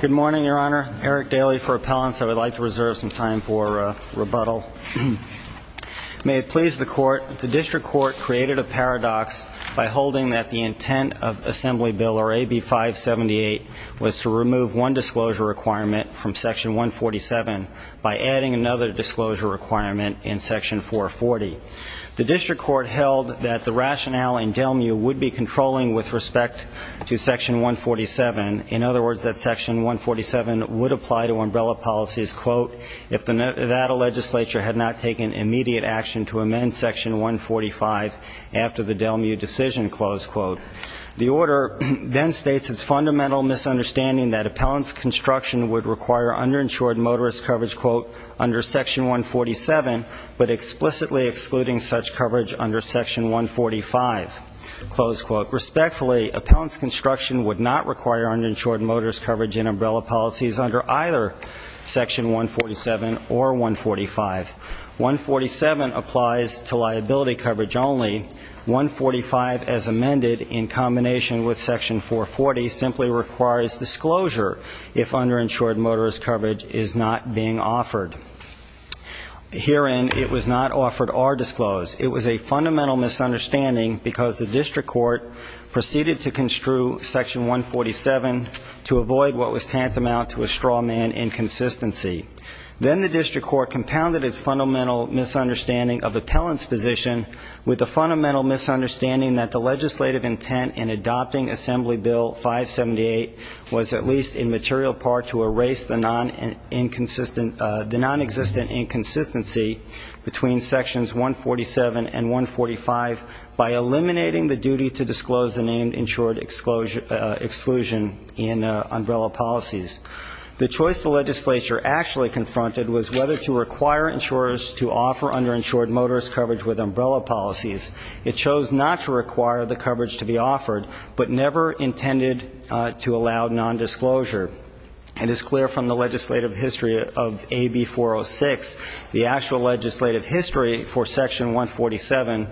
Good morning, Your Honor. Eric Daly for Appellants. I would like to reserve some time for rebuttal. May it please the Court, the District Court created a paradox by holding that the intent of Assembly Bill AB-578 was to remove one disclosure requirement from Section 147 by adding another disclosure requirement in Section 440. The District Court held that the rationale in Delmu would be controlling with respect to Section 147. In other words, that Section 147 would apply to umbrella policies, quote, if the Nevada legislature had not taken immediate action to amend Section 145 after the Delmu decision, close quote. The Order then states its fundamental misunderstanding that appellants' construction would require underinsured motorist coverage, quote, under Section 147, but explicitly excluding such coverage under Section 145, close quote. Quote, respectfully, appellants' construction would not require underinsured motorist coverage in umbrella policies under either Section 147 or 145. 147 applies to liability coverage only. 145, as amended in combination with Section 440, simply requires disclosure if underinsured motorist coverage is not being offered. Herein, it was not offered or disclosed. It was a fundamental misunderstanding because the District Court proceeded to construe Section 147 to avoid what was tantamount to a straw man inconsistency. Then the District Court compounded its fundamental misunderstanding of appellants' position with the fundamental misunderstanding that the legislative intent in adopting Assembly Bill 578 was at least in material part to erase the non-existent inconsistency between Sections 147 and 145 by eliminating the duty to disclose the named insured exclusion in umbrella policies. The choice the legislature actually confronted was whether to require insurers to offer underinsured motorist coverage with umbrella policies. It chose not to require the coverage to be offered, but never intended to allow non-disclosure. It is clear from the legislative history of AB 406, the actual legislative history for Section 147,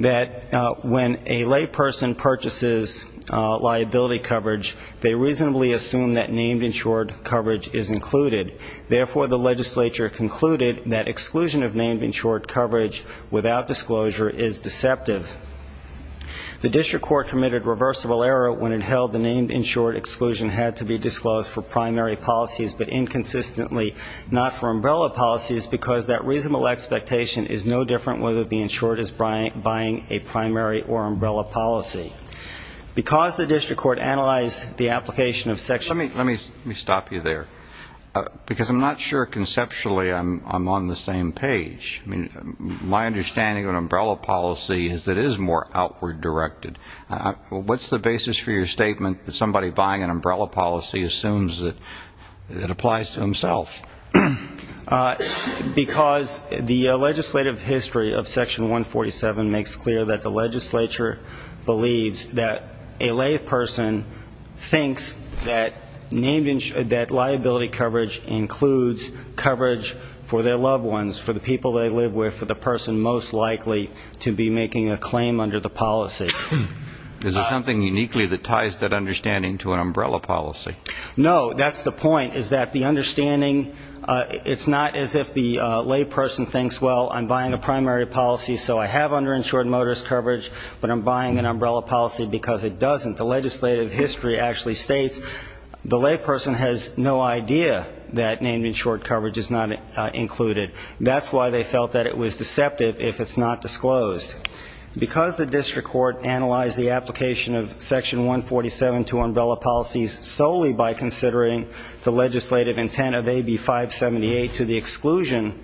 that when a layperson purchases liability coverage, they reasonably assume that named insured coverage is included. Therefore, the legislature concluded that exclusion of named insured coverage without disclosure is deceptive. The District Court committed reversible error when it held the named insured exclusion had to be disclosed for primary policies, but inconsistently not for umbrella policies because that reasonable expectation is no different whether the insured is buying a primary or umbrella policy. Because the District Court analyzed the application of Section 147. Let me stop you there, because I'm not sure conceptually I'm on the same page. My understanding of an umbrella policy is that it is more outward directed. What's the basis for your statement that somebody buying an umbrella policy assumes that it applies to himself? Because the legislative history of Section 147 makes clear that the legislature believes that a layperson thinks that liability coverage includes coverage for their loved ones, for the people they live with, for the person most likely to be making a claim under the policy. Is there something uniquely that ties that understanding to an umbrella policy? No, that's the point, is that the understanding, it's not as if the layperson thinks, well, I'm buying a primary policy, so I have underinsured motorist coverage, but I'm buying an umbrella policy because it doesn't. The legislative history actually states the layperson has no idea that named insured coverage is not included. That's why they felt that it was deceptive if it's not disclosed. Because the district court analyzed the application of Section 147 to umbrella policies solely by considering the legislative intent of AB 578 to the exclusion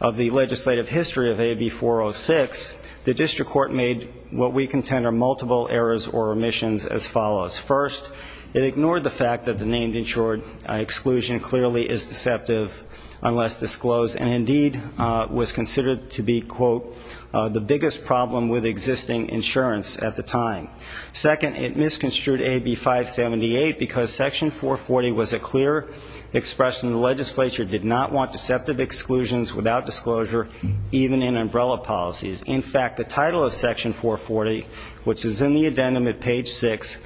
of the legislative history of AB 406, the district court made what we contend are multiple errors or omissions as follows. First, it ignored the fact that the named insured exclusion clearly is deceptive unless disclosed, and indeed was considered to be, quote, the biggest problem with existing insurance at the time. Second, it misconstrued AB 578 because Section 440 was a clear expression the legislature did not want deceptive exclusions without disclosure, even in umbrella policies. In fact, the title of Section 440, which is in the addendum at page 6,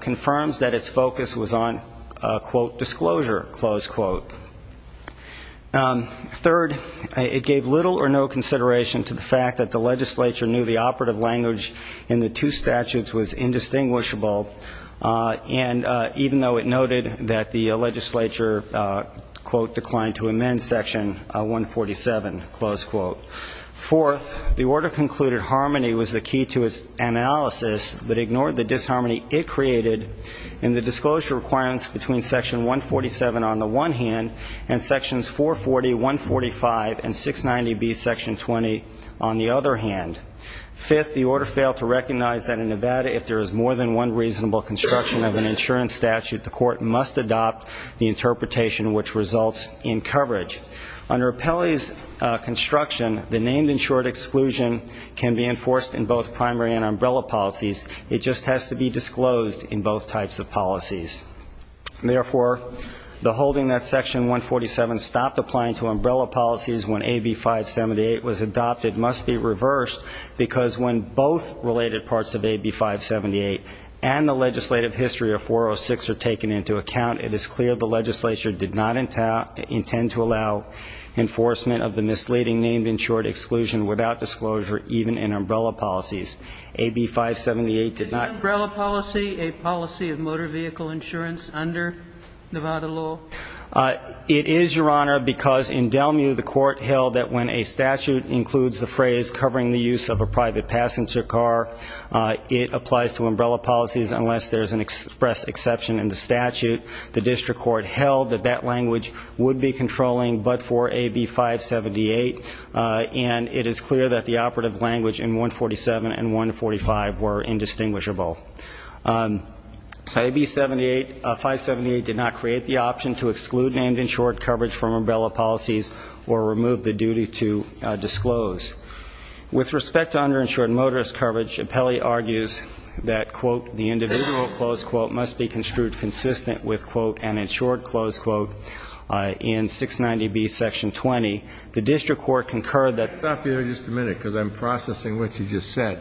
confirms that its focus was on, quote, disclosure, close quote. Third, it gave little or no consideration to the fact that the legislature knew the operative language in the two statutes was indistinguishable, and even though it noted that the legislature, quote, declined to amend Section 147, close quote. Fourth, the order concluded harmony was the key to its analysis, but ignored the disharmony it created in the disclosure requirements between Section 147 on the one hand and Sections 440, 145, and 690B, Section 20 on the other hand. Fifth, the order failed to recognize that in Nevada, if there is more than one reasonable construction of an insurance statute, the court must adopt the interpretation which results in coverage. Under Appellee's construction, the named insured exclusion can be enforced in both primary and umbrella policies. It just has to be disclosed in both types of policies. Therefore, the holding that Section 147 stopped applying to umbrella policies when AB 578 was adopted must be reversed, because when both related parts of AB 578 and the legislative history of 406 are taken into account, it is clear the legislature did not intend to allow enforcement of the misleading named insured exclusion without disclosure even in umbrella policies. AB 578 did not. Is an umbrella policy a policy of motor vehicle insurance under Nevada law? It is, Your Honor, because in Delmu, the court held that when a statute includes the phrase covering the use of a private passenger car, it applies to umbrella policies unless there is an express exception in the statute. The district court held that that language would be controlling but for AB 578, and it is clear that the operative language in 147 and 145 were indistinguishable. AB 578 did not create the option to exclude named insured coverage from umbrella policies or remove the duty to disclose. With respect to underinsured motorist coverage, Appellee argues that, quote, the individual, close quote, must be construed consistent with, quote, an insured, close quote, in 690B Section 20. The district court concurred that- Stop here just a minute, because I'm processing what you just said.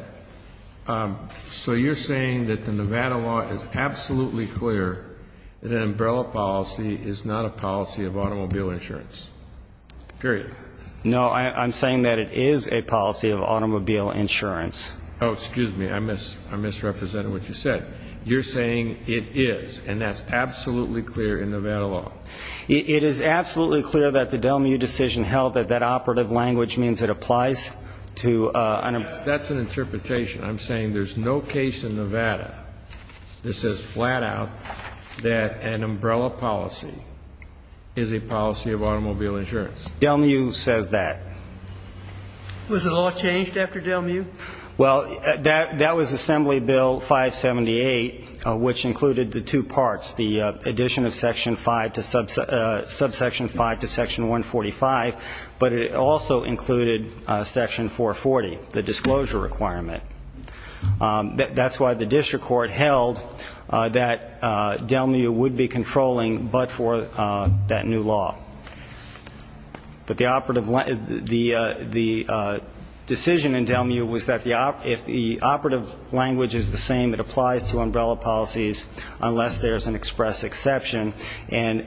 So you're saying that the Nevada law is absolutely clear that an umbrella policy is not a policy of automobile insurance, period? No, I'm saying that it is a policy of automobile insurance. Oh, excuse me. I misrepresented what you said. You're saying it is, and that's absolutely clear in Nevada law? It is absolutely clear that the Delmu decision held that that operative language means it applies to- That's an interpretation. I'm saying there's no case in Nevada that says flat out that an umbrella policy is a policy of automobile insurance. Delmu says that. Was the law changed after Delmu? Well, that was Assembly Bill 578, which included the two parts, the addition of Subsection 5 to Section 145, but it also included Section 440, the disclosure requirement. That's why the district court held that Delmu would be controlling but for that new law. But the decision in Delmu was that if the operative language is the same, it applies to umbrella policies unless there's an express exception, and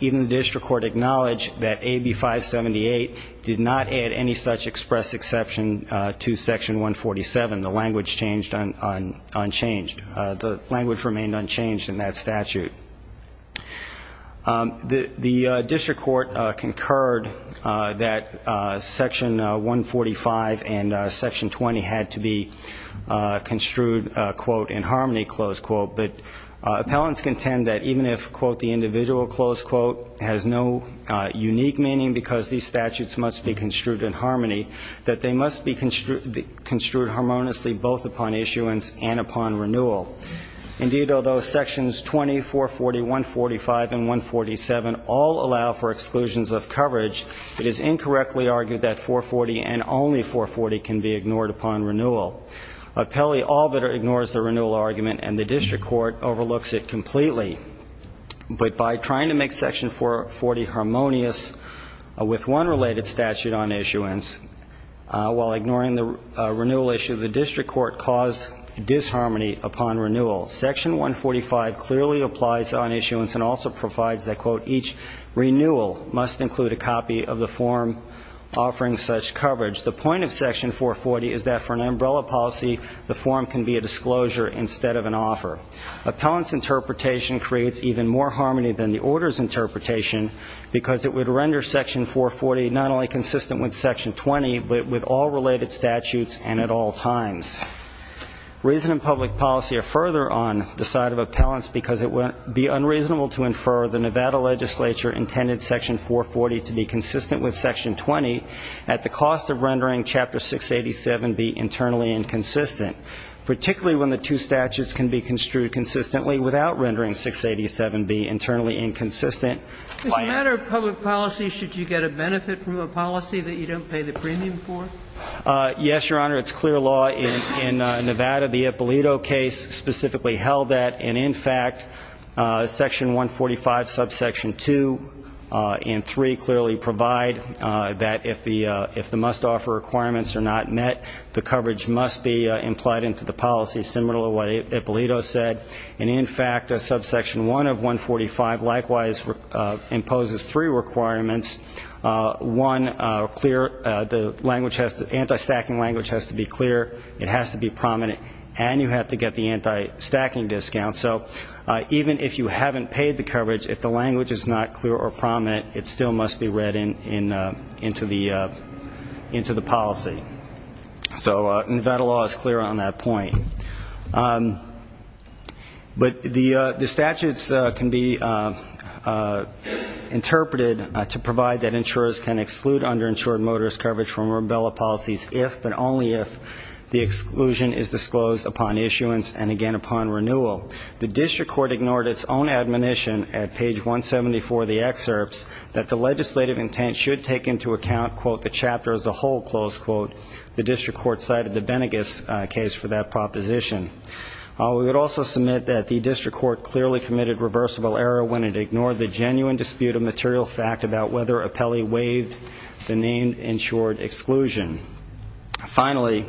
even the district court acknowledged that AB 578 did not add any such express exception to Section 147. The language remained unchanged in that statute. The district court concurred that Section 145 and Section 20 had to be construed, quote, But appellants contend that even if, quote, the individual, close quote, has no unique meaning because these statutes must be construed in harmony, that they must be construed harmoniously both upon issuance and upon renewal. Indeed, although Sections 20, 440, 145, and 147 all allow for exclusions of coverage, it is incorrectly argued that 440 and only 440 can be ignored upon renewal. Pelley all but ignores the renewal argument, and the district court overlooks it completely. But by trying to make Section 440 harmonious with one related statute on issuance, while ignoring the renewal issue, the district court caused disharmony upon renewal. Section 145 clearly applies on issuance and also provides that, quote, each renewal must include a copy of the form offering such coverage. The point of Section 440 is that for an umbrella policy, the form can be a disclosure instead of an offer. Appellant's interpretation creates even more harmony than the order's interpretation because it would render Section 440 not only consistent with Section 20, but with all related statutes and at all times. Reason and public policy are further on the side of appellants because it would be unreasonable to infer the Nevada legislature intended Section 440 to be consistent with Section 20 at the cost of rendering Chapter 687 be internally inconsistent, particularly when the two statutes can be construed consistently without rendering 687 be internally inconsistent. If it's a matter of public policy, should you get a benefit from a policy that you don't pay the premium for? Yes, Your Honor. It's clear law in Nevada. The Ippolito case specifically held that. And, in fact, Section 145, Subsection 2 and 3 clearly provide that if the must-offer requirements are not met, the coverage must be implied into the policy, similar to what Ippolito said. And, in fact, Subsection 1 of 145 likewise imposes three requirements. One, the anti-stacking language has to be clear, it has to be prominent, and you have to get the anti-stacking discount. So even if you haven't paid the coverage, if the language is not clear or prominent, it still must be read into the policy. So Nevada law is clear on that point. But the statutes can be interpreted to provide that insurers can exclude underinsured motorist coverage from rubella policies if, but only if, the exclusion is disclosed upon issuance and, again, upon renewal. The district court ignored its own admonition at page 174 of the excerpts that the legislative intent should take into account, quote, the chapter as a whole, close quote. The district court cited the Benegas case for that proposition. We would also submit that the district court clearly committed reversible error when it ignored the genuine dispute of material fact about whether Apelli waived the named insured exclusion. Finally,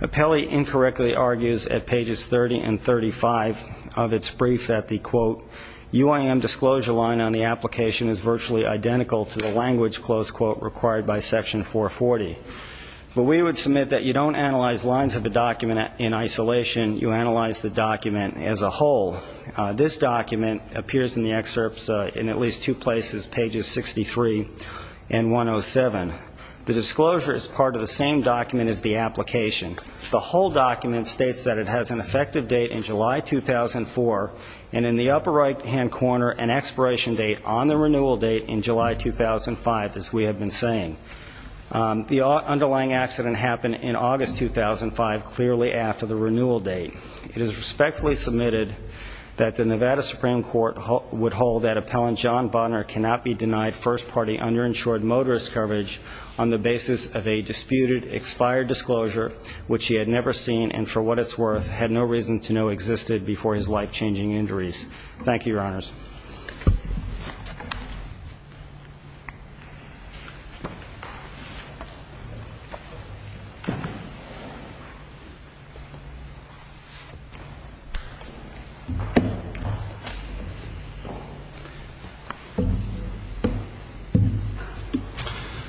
Apelli incorrectly argues at pages 30 and 35 of its brief that the, quote, UIM disclosure line on the application is virtually identical to the language, close quote, required by Section 440. But we would submit that you don't analyze lines of a document in isolation, you analyze the document as a whole. This document appears in the excerpts in at least two places, pages 63 and 107. The disclosure is part of the same document as the application. The whole document states that it has an effective date in July 2004, and in the upper right-hand corner an expiration date on the renewal date in July 2005, as we have been saying. The underlying accident happened in August 2005, clearly after the renewal date. It is respectfully submitted that the Nevada Supreme Court would hold that Appellant John Bonner cannot be denied first-party underinsured motorist coverage on the basis of a disputed expired disclosure, which he had never seen and for what it's worth had no reason to know existed before his life-changing injuries. Thank you, Your Honors.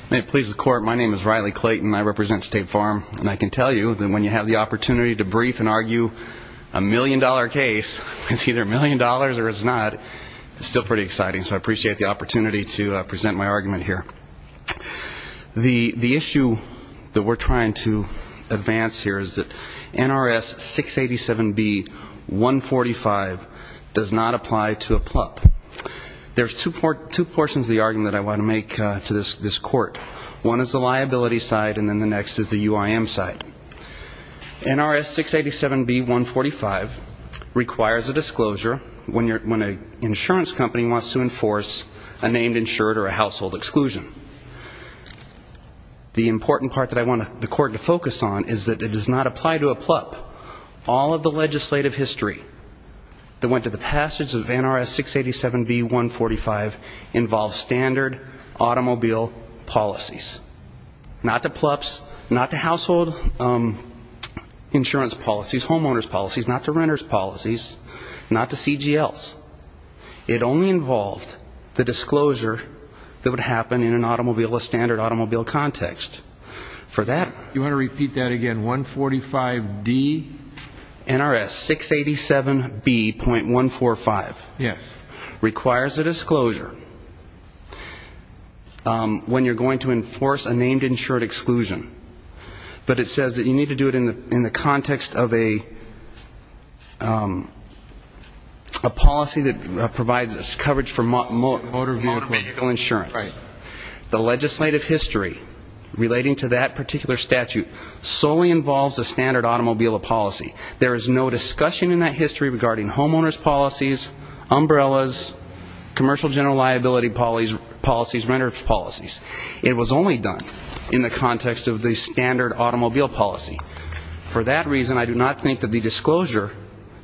May it please the Court, my name is Riley Clayton, and I represent State Farm. And I can tell you that when you have the opportunity to brief and argue a million-dollar case, it's either a million dollars or it's not, it's still pretty exciting, so I appreciate the opportunity to present my argument here. The issue that we're trying to advance here is that NRS 687B-145 does not apply to a plup. There's two portions of the argument that I want to make to this Court. One is the liability side, and then the next is the UIM side. NRS 687B-145 requires a disclosure when an insurance company wants to enforce a named insured or a household exclusion. The important part that I want the Court to focus on is that it does not apply to a plup. All of the legislative history that went to the passage of NRS 687B-145 involves standard automobile policies. Not to plups, not to household insurance policies, homeowners' policies, not to renters' policies, not to CGLs. It only involved the disclosure that would happen in a standard automobile context. You want to repeat that again, 145D? NRS 687B-145 requires a disclosure when you're going to enforce a named insured exclusion, but it says that you need to do it in the context of a policy that provides coverage for motor vehicle insurance. The legislative history relating to that particular statute solely involves a standard automobile policy. There is no discussion in that history regarding homeowners' policies, umbrellas, commercial general liability policies, renters' policies. It was only done in the context of the standard automobile policy. For that reason, I do not think that the disclosure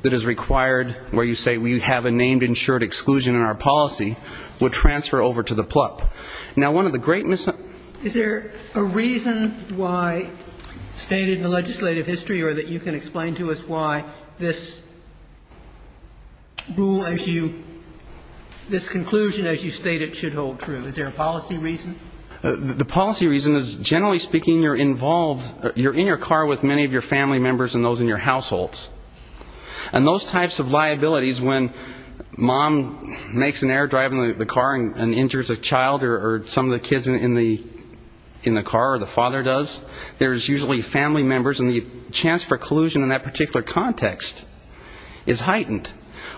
that is required where you say we have a named insured exclusion in our policy would transfer over to the plup. Now, one of the great mis- Is there a reason why, stated in the legislative history, or that you can explain to us why this rule as you, this conclusion as you state it should hold true? Is there a policy reason? The policy reason is, generally speaking, you're involved, you're in your car with many of your family members and those in your households. And those types of liabilities, when mom makes an error driving the car and injures a child or some of the kids in the car or the father does, there's usually family members and the chance for collusion in that particular context is heightened.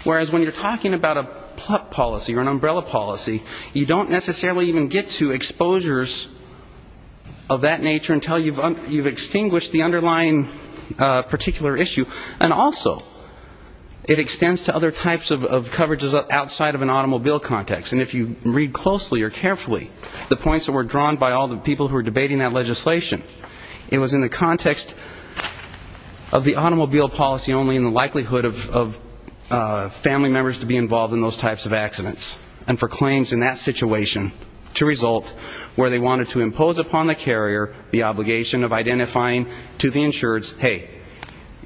Whereas when you're talking about a plup policy or an umbrella policy, you don't necessarily even get to exposures of that nature until you've extinguished the underlying particular issue. And also, it extends to other types of coverages outside of an automobile context. And if you read closely or carefully the points that were drawn by all the people who were debating that legislation, it was in the context of the automobile policy only in the likelihood of family members to be involved in those types of accidents. And for claims in that situation to result where they wanted to impose upon the carrier the obligation of identifying to the insureds, hey,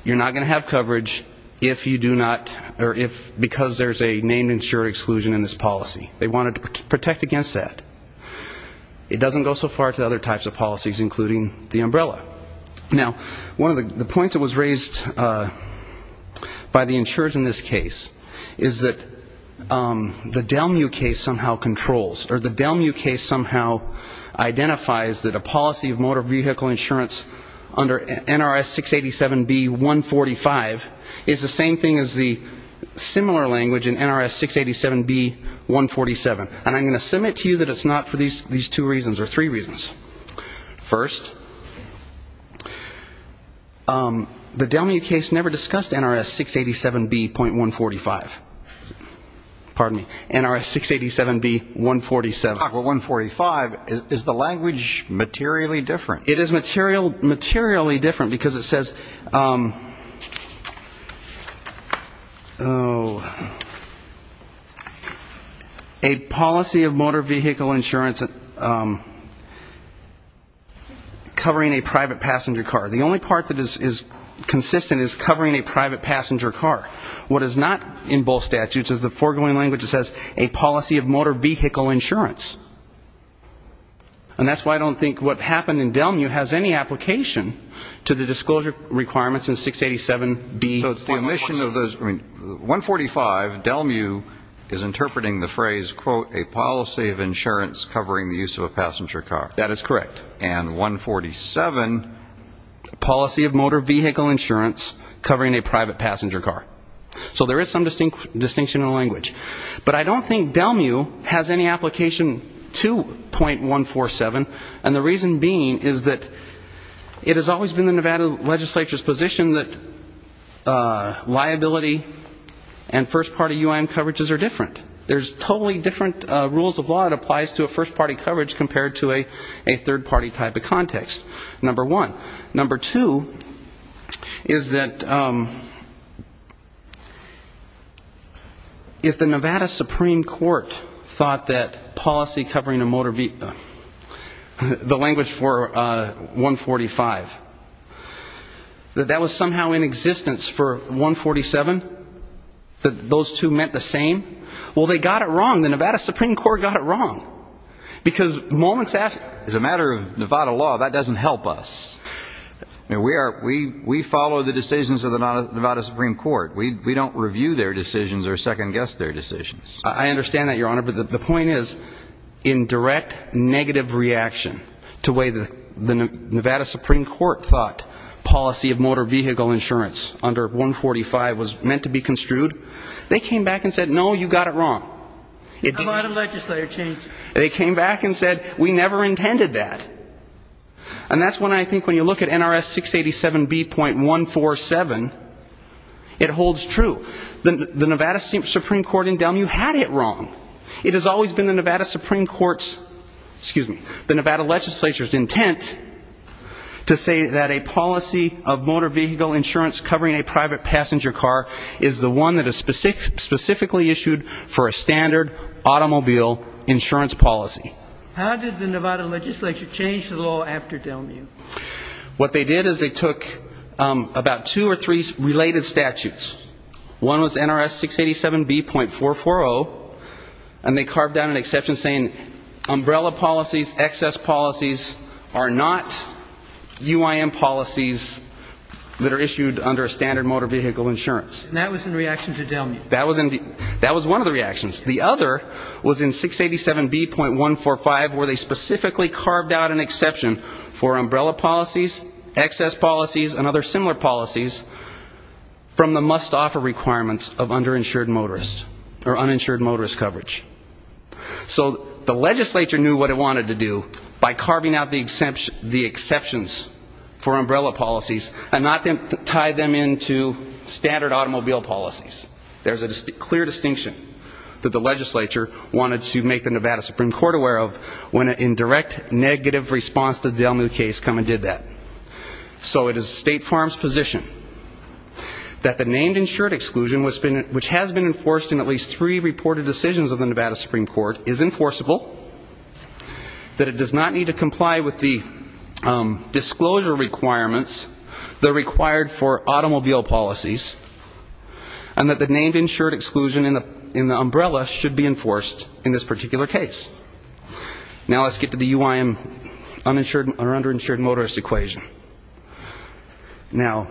you're not going to have coverage if you do not, or because there's a named insured exclusion in this policy. They wanted to protect against that. It doesn't go so far to other types of policies, including the umbrella. Now, one of the points that was raised by the insureds in this case is that the Delmu case somehow controls, or the Delmu case somehow identifies that a policy of motor vehicle insurance under NRS 687B.145 is the same thing as the similar language in NRS 687B.147. And I'm going to submit to you that it's not for these two reasons, or three reasons. First, the Delmu case never discussed NRS 687B.145. Pardon me, NRS 687B.147. But NRS 687B.145, is the language materially different? It is materially different, because it says, a policy of motor vehicle insurance covering a private passenger car. The only part that is consistent is covering a private passenger car. What is not in both statutes is the foregoing language that says, a policy of motor vehicle insurance. And that's why I don't think what happened in Delmu has any application to the disclosure requirements in 687B.147. So it's the omission of those. I mean, 145, Delmu is interpreting the phrase, quote, a policy of insurance covering the use of a passenger car. That is correct. And 147, policy of motor vehicle insurance covering a private passenger car. So there is some distinction in the language. But I don't think Delmu has any application to .147, and the reason being is that it has always been the Nevada legislature's position that liability and first-party UIM coverages are different. There's totally different rules of law that applies to a first-party coverage compared to a third-party type of context, number one. Number two is that if the Nevada Supreme Court thought that policy covering a motor vehicle, the language for 145, that that was somehow in existence for 147, that those two meant the same, well, they got it wrong. And the Nevada Supreme Court got it wrong. Because moments after... As a matter of Nevada law, that doesn't help us. We follow the decisions of the Nevada Supreme Court. We don't review their decisions or second-guess their decisions. I understand that, Your Honor. But the point is, in direct negative reaction to the way the Nevada Supreme Court thought policy of motor vehicle insurance under 145 was meant to be construed, they came back and said, no, you got it wrong. A lot of legislature changed it. They came back and said, we never intended that. And that's when I think when you look at NRS 687B.147, it holds true. The Nevada Supreme Court in Delmu had it wrong. It has always been the Nevada Supreme Court's, excuse me, the Nevada legislature's intent to say that a policy of motor vehicle insurance covering a private passenger car is the one that is specifically issued for a standard automobile insurance policy. How did the Nevada legislature change the law after Delmu? What they did is they took about two or three related statutes. One was NRS 687B.440, and they carved down an exception saying umbrella policies, excess policies are not UIM policies that are issued under a standard motor vehicle insurance. And that was in reaction to Delmu. That was one of the reactions. The other was in 687B.145, where they specifically carved out an exception for umbrella policies, excess policies, and other similar policies from the must-offer requirements of underinsured motorists or uninsured motorist coverage. So the legislature knew what it wanted to do by carving out the exceptions for umbrella policies and not tie them into standard automobile policies. There's a clear distinction that the legislature wanted to make the Nevada Supreme Court aware of when a direct negative response to the Delmu case come and did that. So it is State Farm's position that the named insured exclusion, which has been enforced in at least three reported decisions of the Nevada Supreme Court, is enforceable, that it does not need to comply with the disclosure requirements that are required for automobile policies, and that the named insured exclusion in the umbrella should be enforced in this particular case. Now let's get to the UIM uninsured or underinsured motorist equation. Now...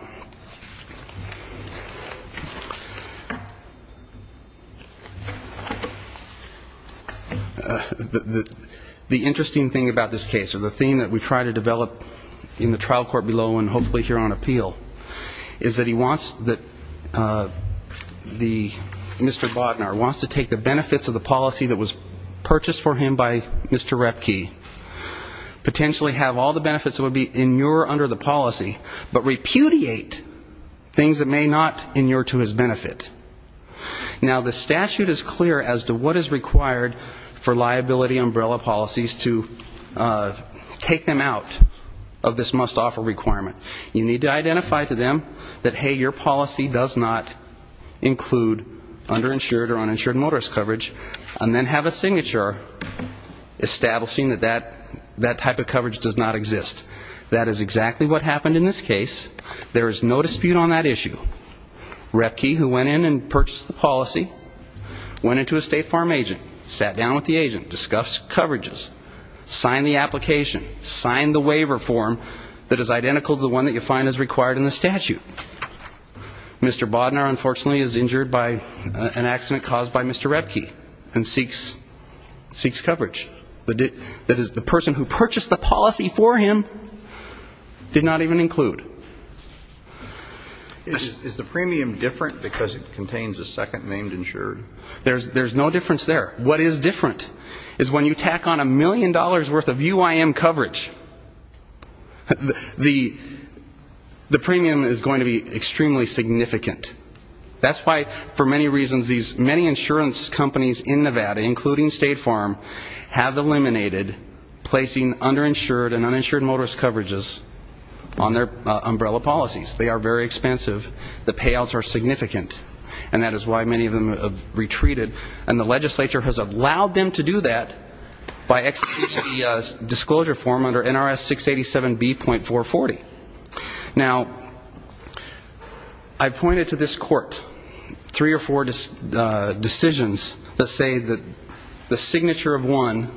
The interesting thing about this case, or the theme that we try to develop in the trial court below and hopefully here on appeal, is that he wants the Mr. Bodnar wants to take the benefits of the policy that was purchased for him by Mr. Repke, potentially have all the benefits that would be inure under the policy, but repudiate things that may not inure to his benefit. Now the statute is clear as to what is required for liability umbrella policies to take them out of this must-offer requirement. You need to identify to them that, hey, your policy does not include underinsured or uninsured motorist coverage, and then have a signature establishing that that type of coverage does not exist. That is exactly what happened in this case. There is no dispute on that issue. Repke, who went in and purchased the policy, went into a state farm agent, sat down with the agent, discussed coverages, signed the application, signed the waiver form that is identical to the one that you find is required in the statute. Mr. Bodnar, unfortunately, is injured by an accident caused by Mr. Repke and seeks coverage. The person who purchased the policy for him did not even include. Is the premium different because it contains a second named insured? There's no difference there. What is different is when you tack on a million dollars' worth of UIM coverage, the premium is going to be extremely significant. That's why, for many reasons, these many insurance companies in Nevada, including State Farm, have eliminated placing underinsured and uninsured motorist coverages on their umbrella policies. They are very expensive. The payouts are significant, and that is why many of them have retreated. And the legislature has allowed them to do that by exiting the disclosure form under NRS 687B.440. Now, I pointed to this court three or four decisions that say that the signature of one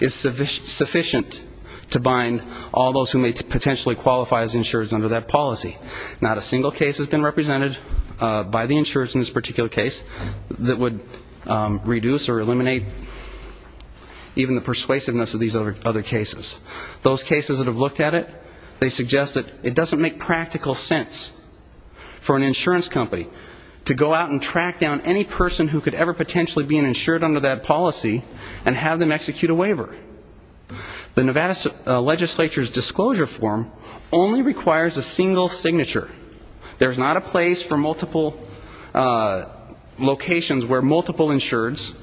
is sufficient to bind all those who may potentially qualify as insureds under that policy. Not a single case has been represented by the insurers in this particular case that would reduce or eliminate even the persuasiveness of these other cases. Those cases that have looked at it, they suggest that it doesn't make practical sense for an insurance company to go out and track down any person who could ever potentially be insured under that policy and have them execute a waiver. The Nevada legislature's disclosure form only requires a single signature. There's not a place for multiple locations where multiple insureds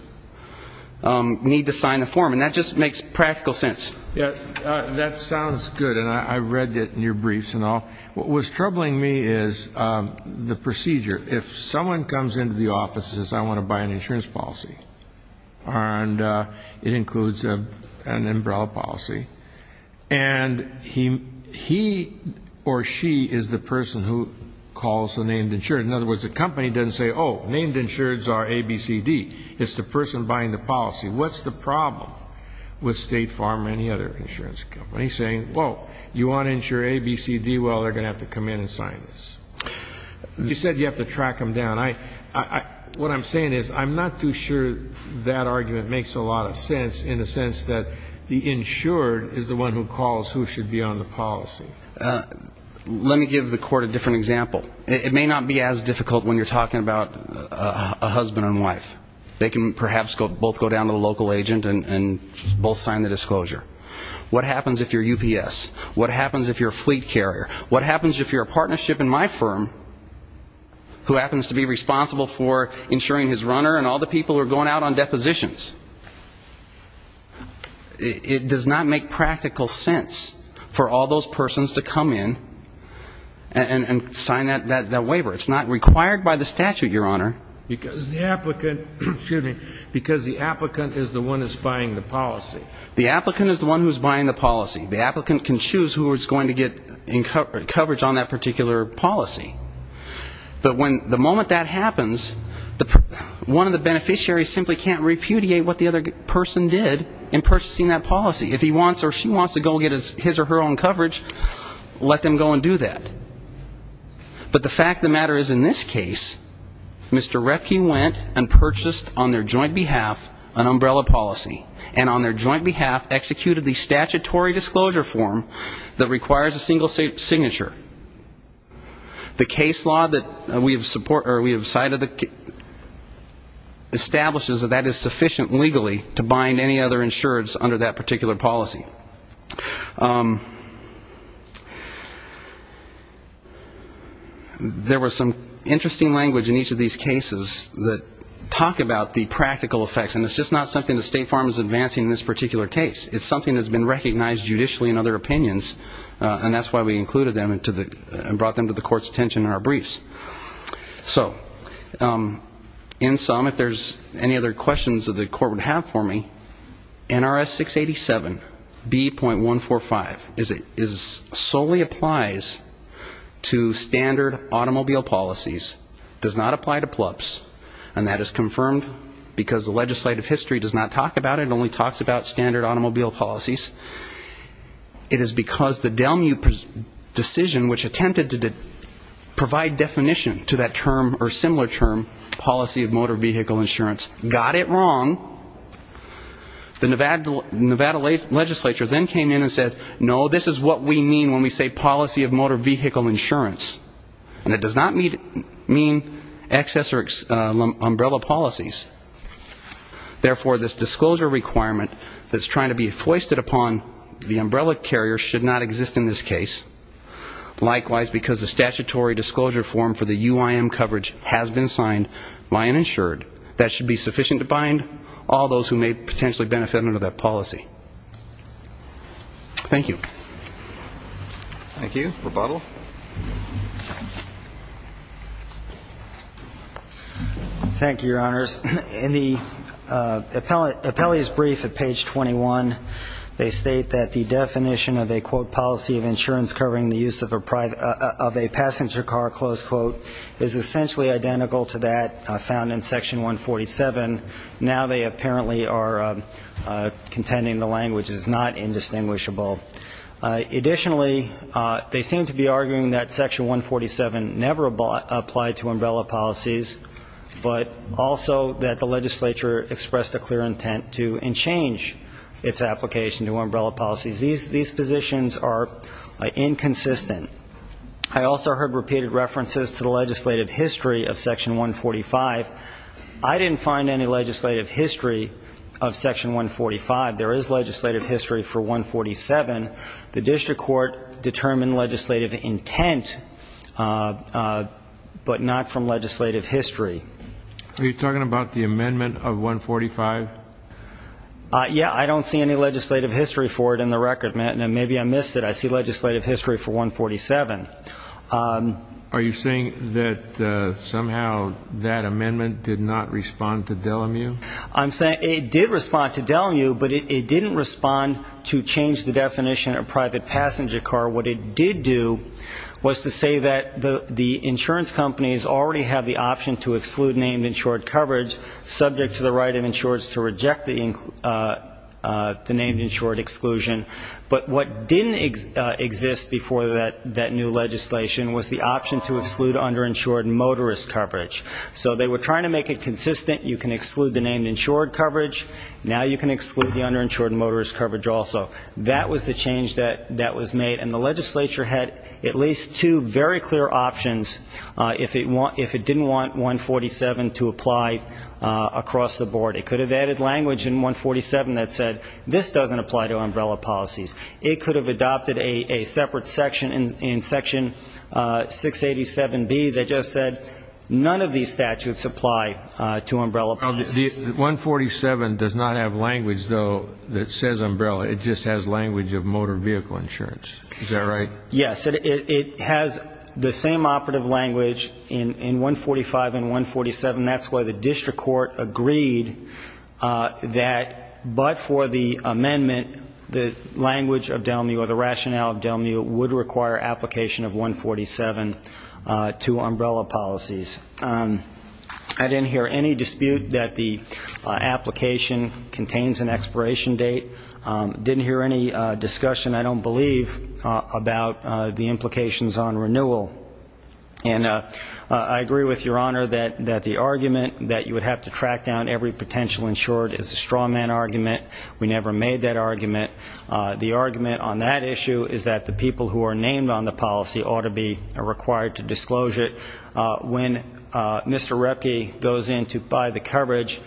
need to sign a form, and that just makes practical sense. That sounds good, and I read it in your briefs. What was troubling me is the procedure. If someone comes into the office and says, I want to buy an insurance policy, and it includes an umbrella policy, and he or she is the person who calls the named insured. In other words, the company doesn't say, oh, named insureds are A, B, C, D. It's the person buying the policy. What's the problem with State Farm or any other insurance company saying, whoa, you want to insure A, B, C, D, well, they're going to have to come in and sign this? You said you have to track them down. What I'm saying is I'm not too sure that argument makes a lot of sense, in the sense that the insured is the one who calls who should be on the policy. Let me give the Court a different example. It may not be as difficult when you're talking about a husband and wife. They can perhaps both go down to the local agent and both sign the disclosure. What happens if you're UPS? What happens if you're a fleet carrier? What happens if you're a partnership in my firm who happens to be responsible for insuring his runner and all the people who are going out on depositions? It does not make practical sense for all those persons to come in and sign that waiver. It's not required by the statute, Your Honor. Because the applicant is the one who's buying the policy. The applicant is the one who's buying the policy. The applicant can choose who is going to get coverage on that particular policy. But the moment that happens, one of the beneficiaries simply can't repudiate what the other person did in purchasing that policy. If he wants or she wants to go get his or her own coverage, let them go and do that. But the fact of the matter is in this case, Mr. Reckie went and purchased on their joint behalf an umbrella policy, and on their joint behalf executed the statutory disclosure form that requires a single signature. The case law that we have cited establishes that that is sufficient legally to bind any other insureds under that particular policy. There was some interesting language in each of these cases that talk about the practical effects, and it's just not something that State Farm is advancing in this particular case. It's something that's been recognized judicially in other opinions, and that's why we included them and brought them to the Court's attention in our briefs. So in sum, if there's any other questions that the Court would have for me, NRS 687B.145 solely applies to standard automobile policies, does not apply to plubs, and that is confirmed because the legislative history does not talk about it. It only talks about standard automobile policies. It is because the Delmu decision, which attempted to provide definition to that term or similar term, policy of motor vehicle insurance, got it wrong. The Nevada legislature then came in and said, no, this is what we mean when we say policy of motor vehicle insurance. And it does not mean access or umbrella policies. Therefore, this disclosure requirement that's trying to be foisted upon the umbrella carrier should not exist in this case. Likewise, because the statutory disclosure form for the UIM coverage has been signed by an insured, that should be sufficient to bind all those who may potentially benefit under that policy. Thank you. Thank you. Rebuttal. Thank you, Your Honors. In the appellee's brief at page 21, they state that the definition of a, quote, policy of insurance covering the use of a passenger car, close quote, is essentially identical to that found in Section 147. Now they apparently are contending the language is not indistinguishable. Additionally, they seem to be arguing that Section 147 never applied to umbrella policies, but also that the legislature expressed a clear intent to and change its application to umbrella policies. These positions are inconsistent. I also heard repeated references to the legislative history of Section 145. I didn't find any legislative history of Section 145. There is legislative history for 147. The district court determined legislative intent, but not from legislative history. Are you talking about the amendment of 145? Yeah, I don't see any legislative history for it in the record. Maybe I missed it. I see legislative history for 147. Are you saying that somehow that amendment did not respond to Delamue? I'm saying it did respond to Delamue, but it didn't respond to change the definition of private passenger car. What it did do was to say that the insurance companies already have the option to exclude named insured coverage, subject to the right of insurers to reject the named insured exclusion. But what didn't exist before that new legislation was the option to exclude underinsured motorist coverage. So they were trying to make it consistent. You can exclude the named insured coverage. Now you can exclude the underinsured motorist coverage also. That was the change that was made, and the legislature had at least two very clear options if it didn't want 147 to apply across the board. It could have added language in 147 that said this doesn't apply to umbrella policies. It could have adopted a separate section in Section 687B that just said none of these statutes apply to umbrella policies. 147 does not have language, though, that says umbrella. It just has language of motor vehicle insurance. Is that right? Yes. It has the same operative language in 145 and 147. That's why the district court agreed that but for the amendment, the language of DELMU or the rationale of DELMU would require application of 147 to umbrella policies. I didn't hear any dispute that the application contains an expiration date. Didn't hear any discussion, I don't believe, about the implications on renewal. And I agree with Your Honor that the argument that you would have to track down every potential insured is a straw man argument. We never made that argument. The argument on that issue is that the people who are named on the policy ought to be required to disclose it. When Mr. Repke goes in to buy the coverage,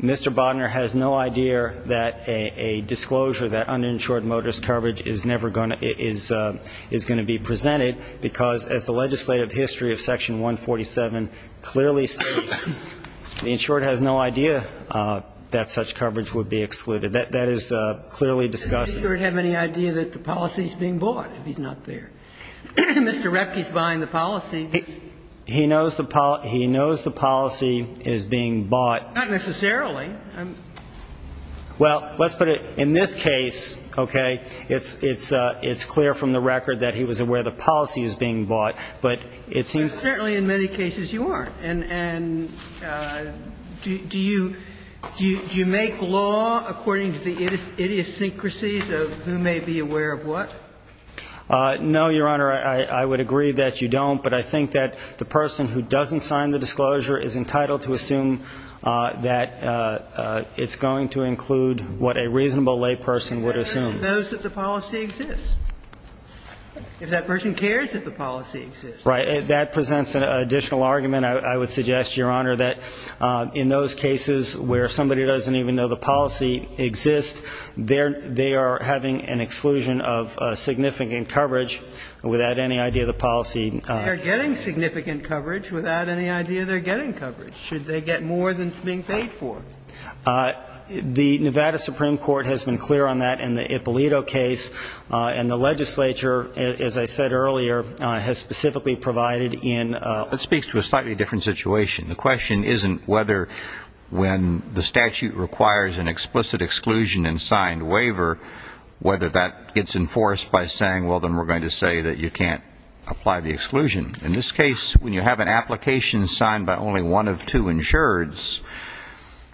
Mr. Bodner has no idea that a disclosure, that uninsured motorist coverage is never going to be presented because, as the legislative history of Section 147 clearly states, the insured has no idea that such coverage would be excluded. That is clearly discussed. Does the insured have any idea that the policy is being bought if he's not there? Mr. Repke is buying the policy. He knows the policy is being bought. Not necessarily. Well, let's put it, in this case, okay, it's clear from the record that he was aware the policy is being bought, but it seems Certainly in many cases you aren't. And do you make law according to the idiosyncrasies of who may be aware of what? No, Your Honor. I would agree that you don't. But I think that the person who doesn't sign the disclosure is entitled to assume that it's going to include what a reasonable layperson would assume. If that person knows that the policy exists. If that person cares that the policy exists. Right. That presents an additional argument. I would suggest, Your Honor, that in those cases where somebody doesn't even know the policy exists, They're getting significant coverage without any idea they're getting coverage. Should they get more than is being paid for? The Nevada Supreme Court has been clear on that in the Ippolito case. And the legislature, as I said earlier, has specifically provided in It speaks to a slightly different situation. The question isn't whether when the statute requires an explicit exclusion and signed waiver, whether that gets enforced by saying, Well, then we're going to say that you can't apply the exclusion. In this case, when you have an application signed by only one of two insureds,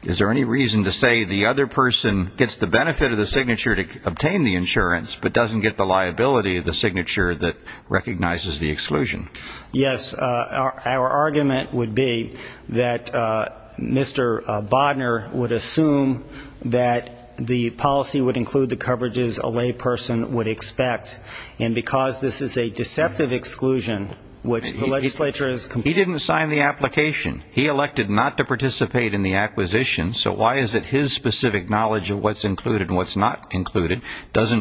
Is there any reason to say the other person gets the benefit of the signature to obtain the insurance, But doesn't get the liability of the signature that recognizes the exclusion? Yes. Our argument would be that Mr. Bodner would assume that the policy would include the coverages a layperson would expect, And because this is a deceptive exclusion, which the legislature has completed He didn't sign the application. He elected not to participate in the acquisition, So why is it his specific knowledge of what's included and what's not included Because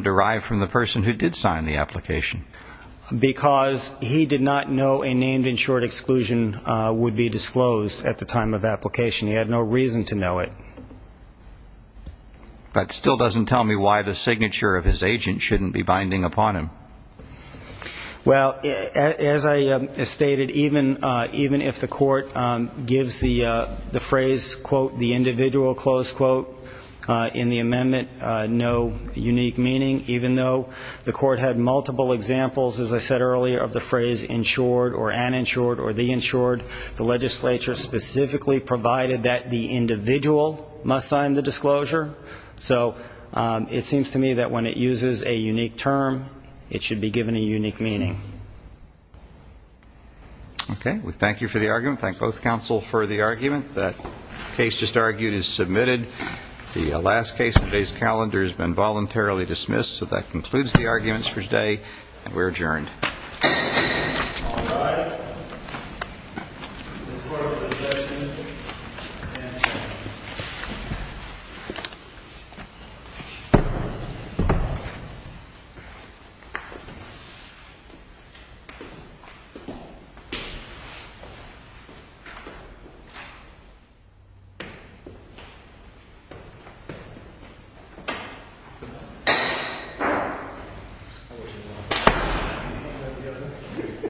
he did not know a named insured exclusion would be disclosed at the time of application. He had no reason to know it. That still doesn't tell me why the signature of his agent shouldn't be binding upon him. Well, as I stated, even if the court gives the phrase, quote, the individual, close quote, in the amendment, No unique meaning, even though the court had multiple examples, as I said earlier, Of the phrase insured or uninsured or the insured, The legislature specifically provided that the individual must sign the disclosure. So it seems to me that when it uses a unique term, it should be given a unique meaning. Okay. We thank you for the argument. Thank both counsel for the argument. That case just argued is submitted. The last case of today's calendar has been voluntarily dismissed. So that concludes the arguments for today. And we're adjourned. Thank you.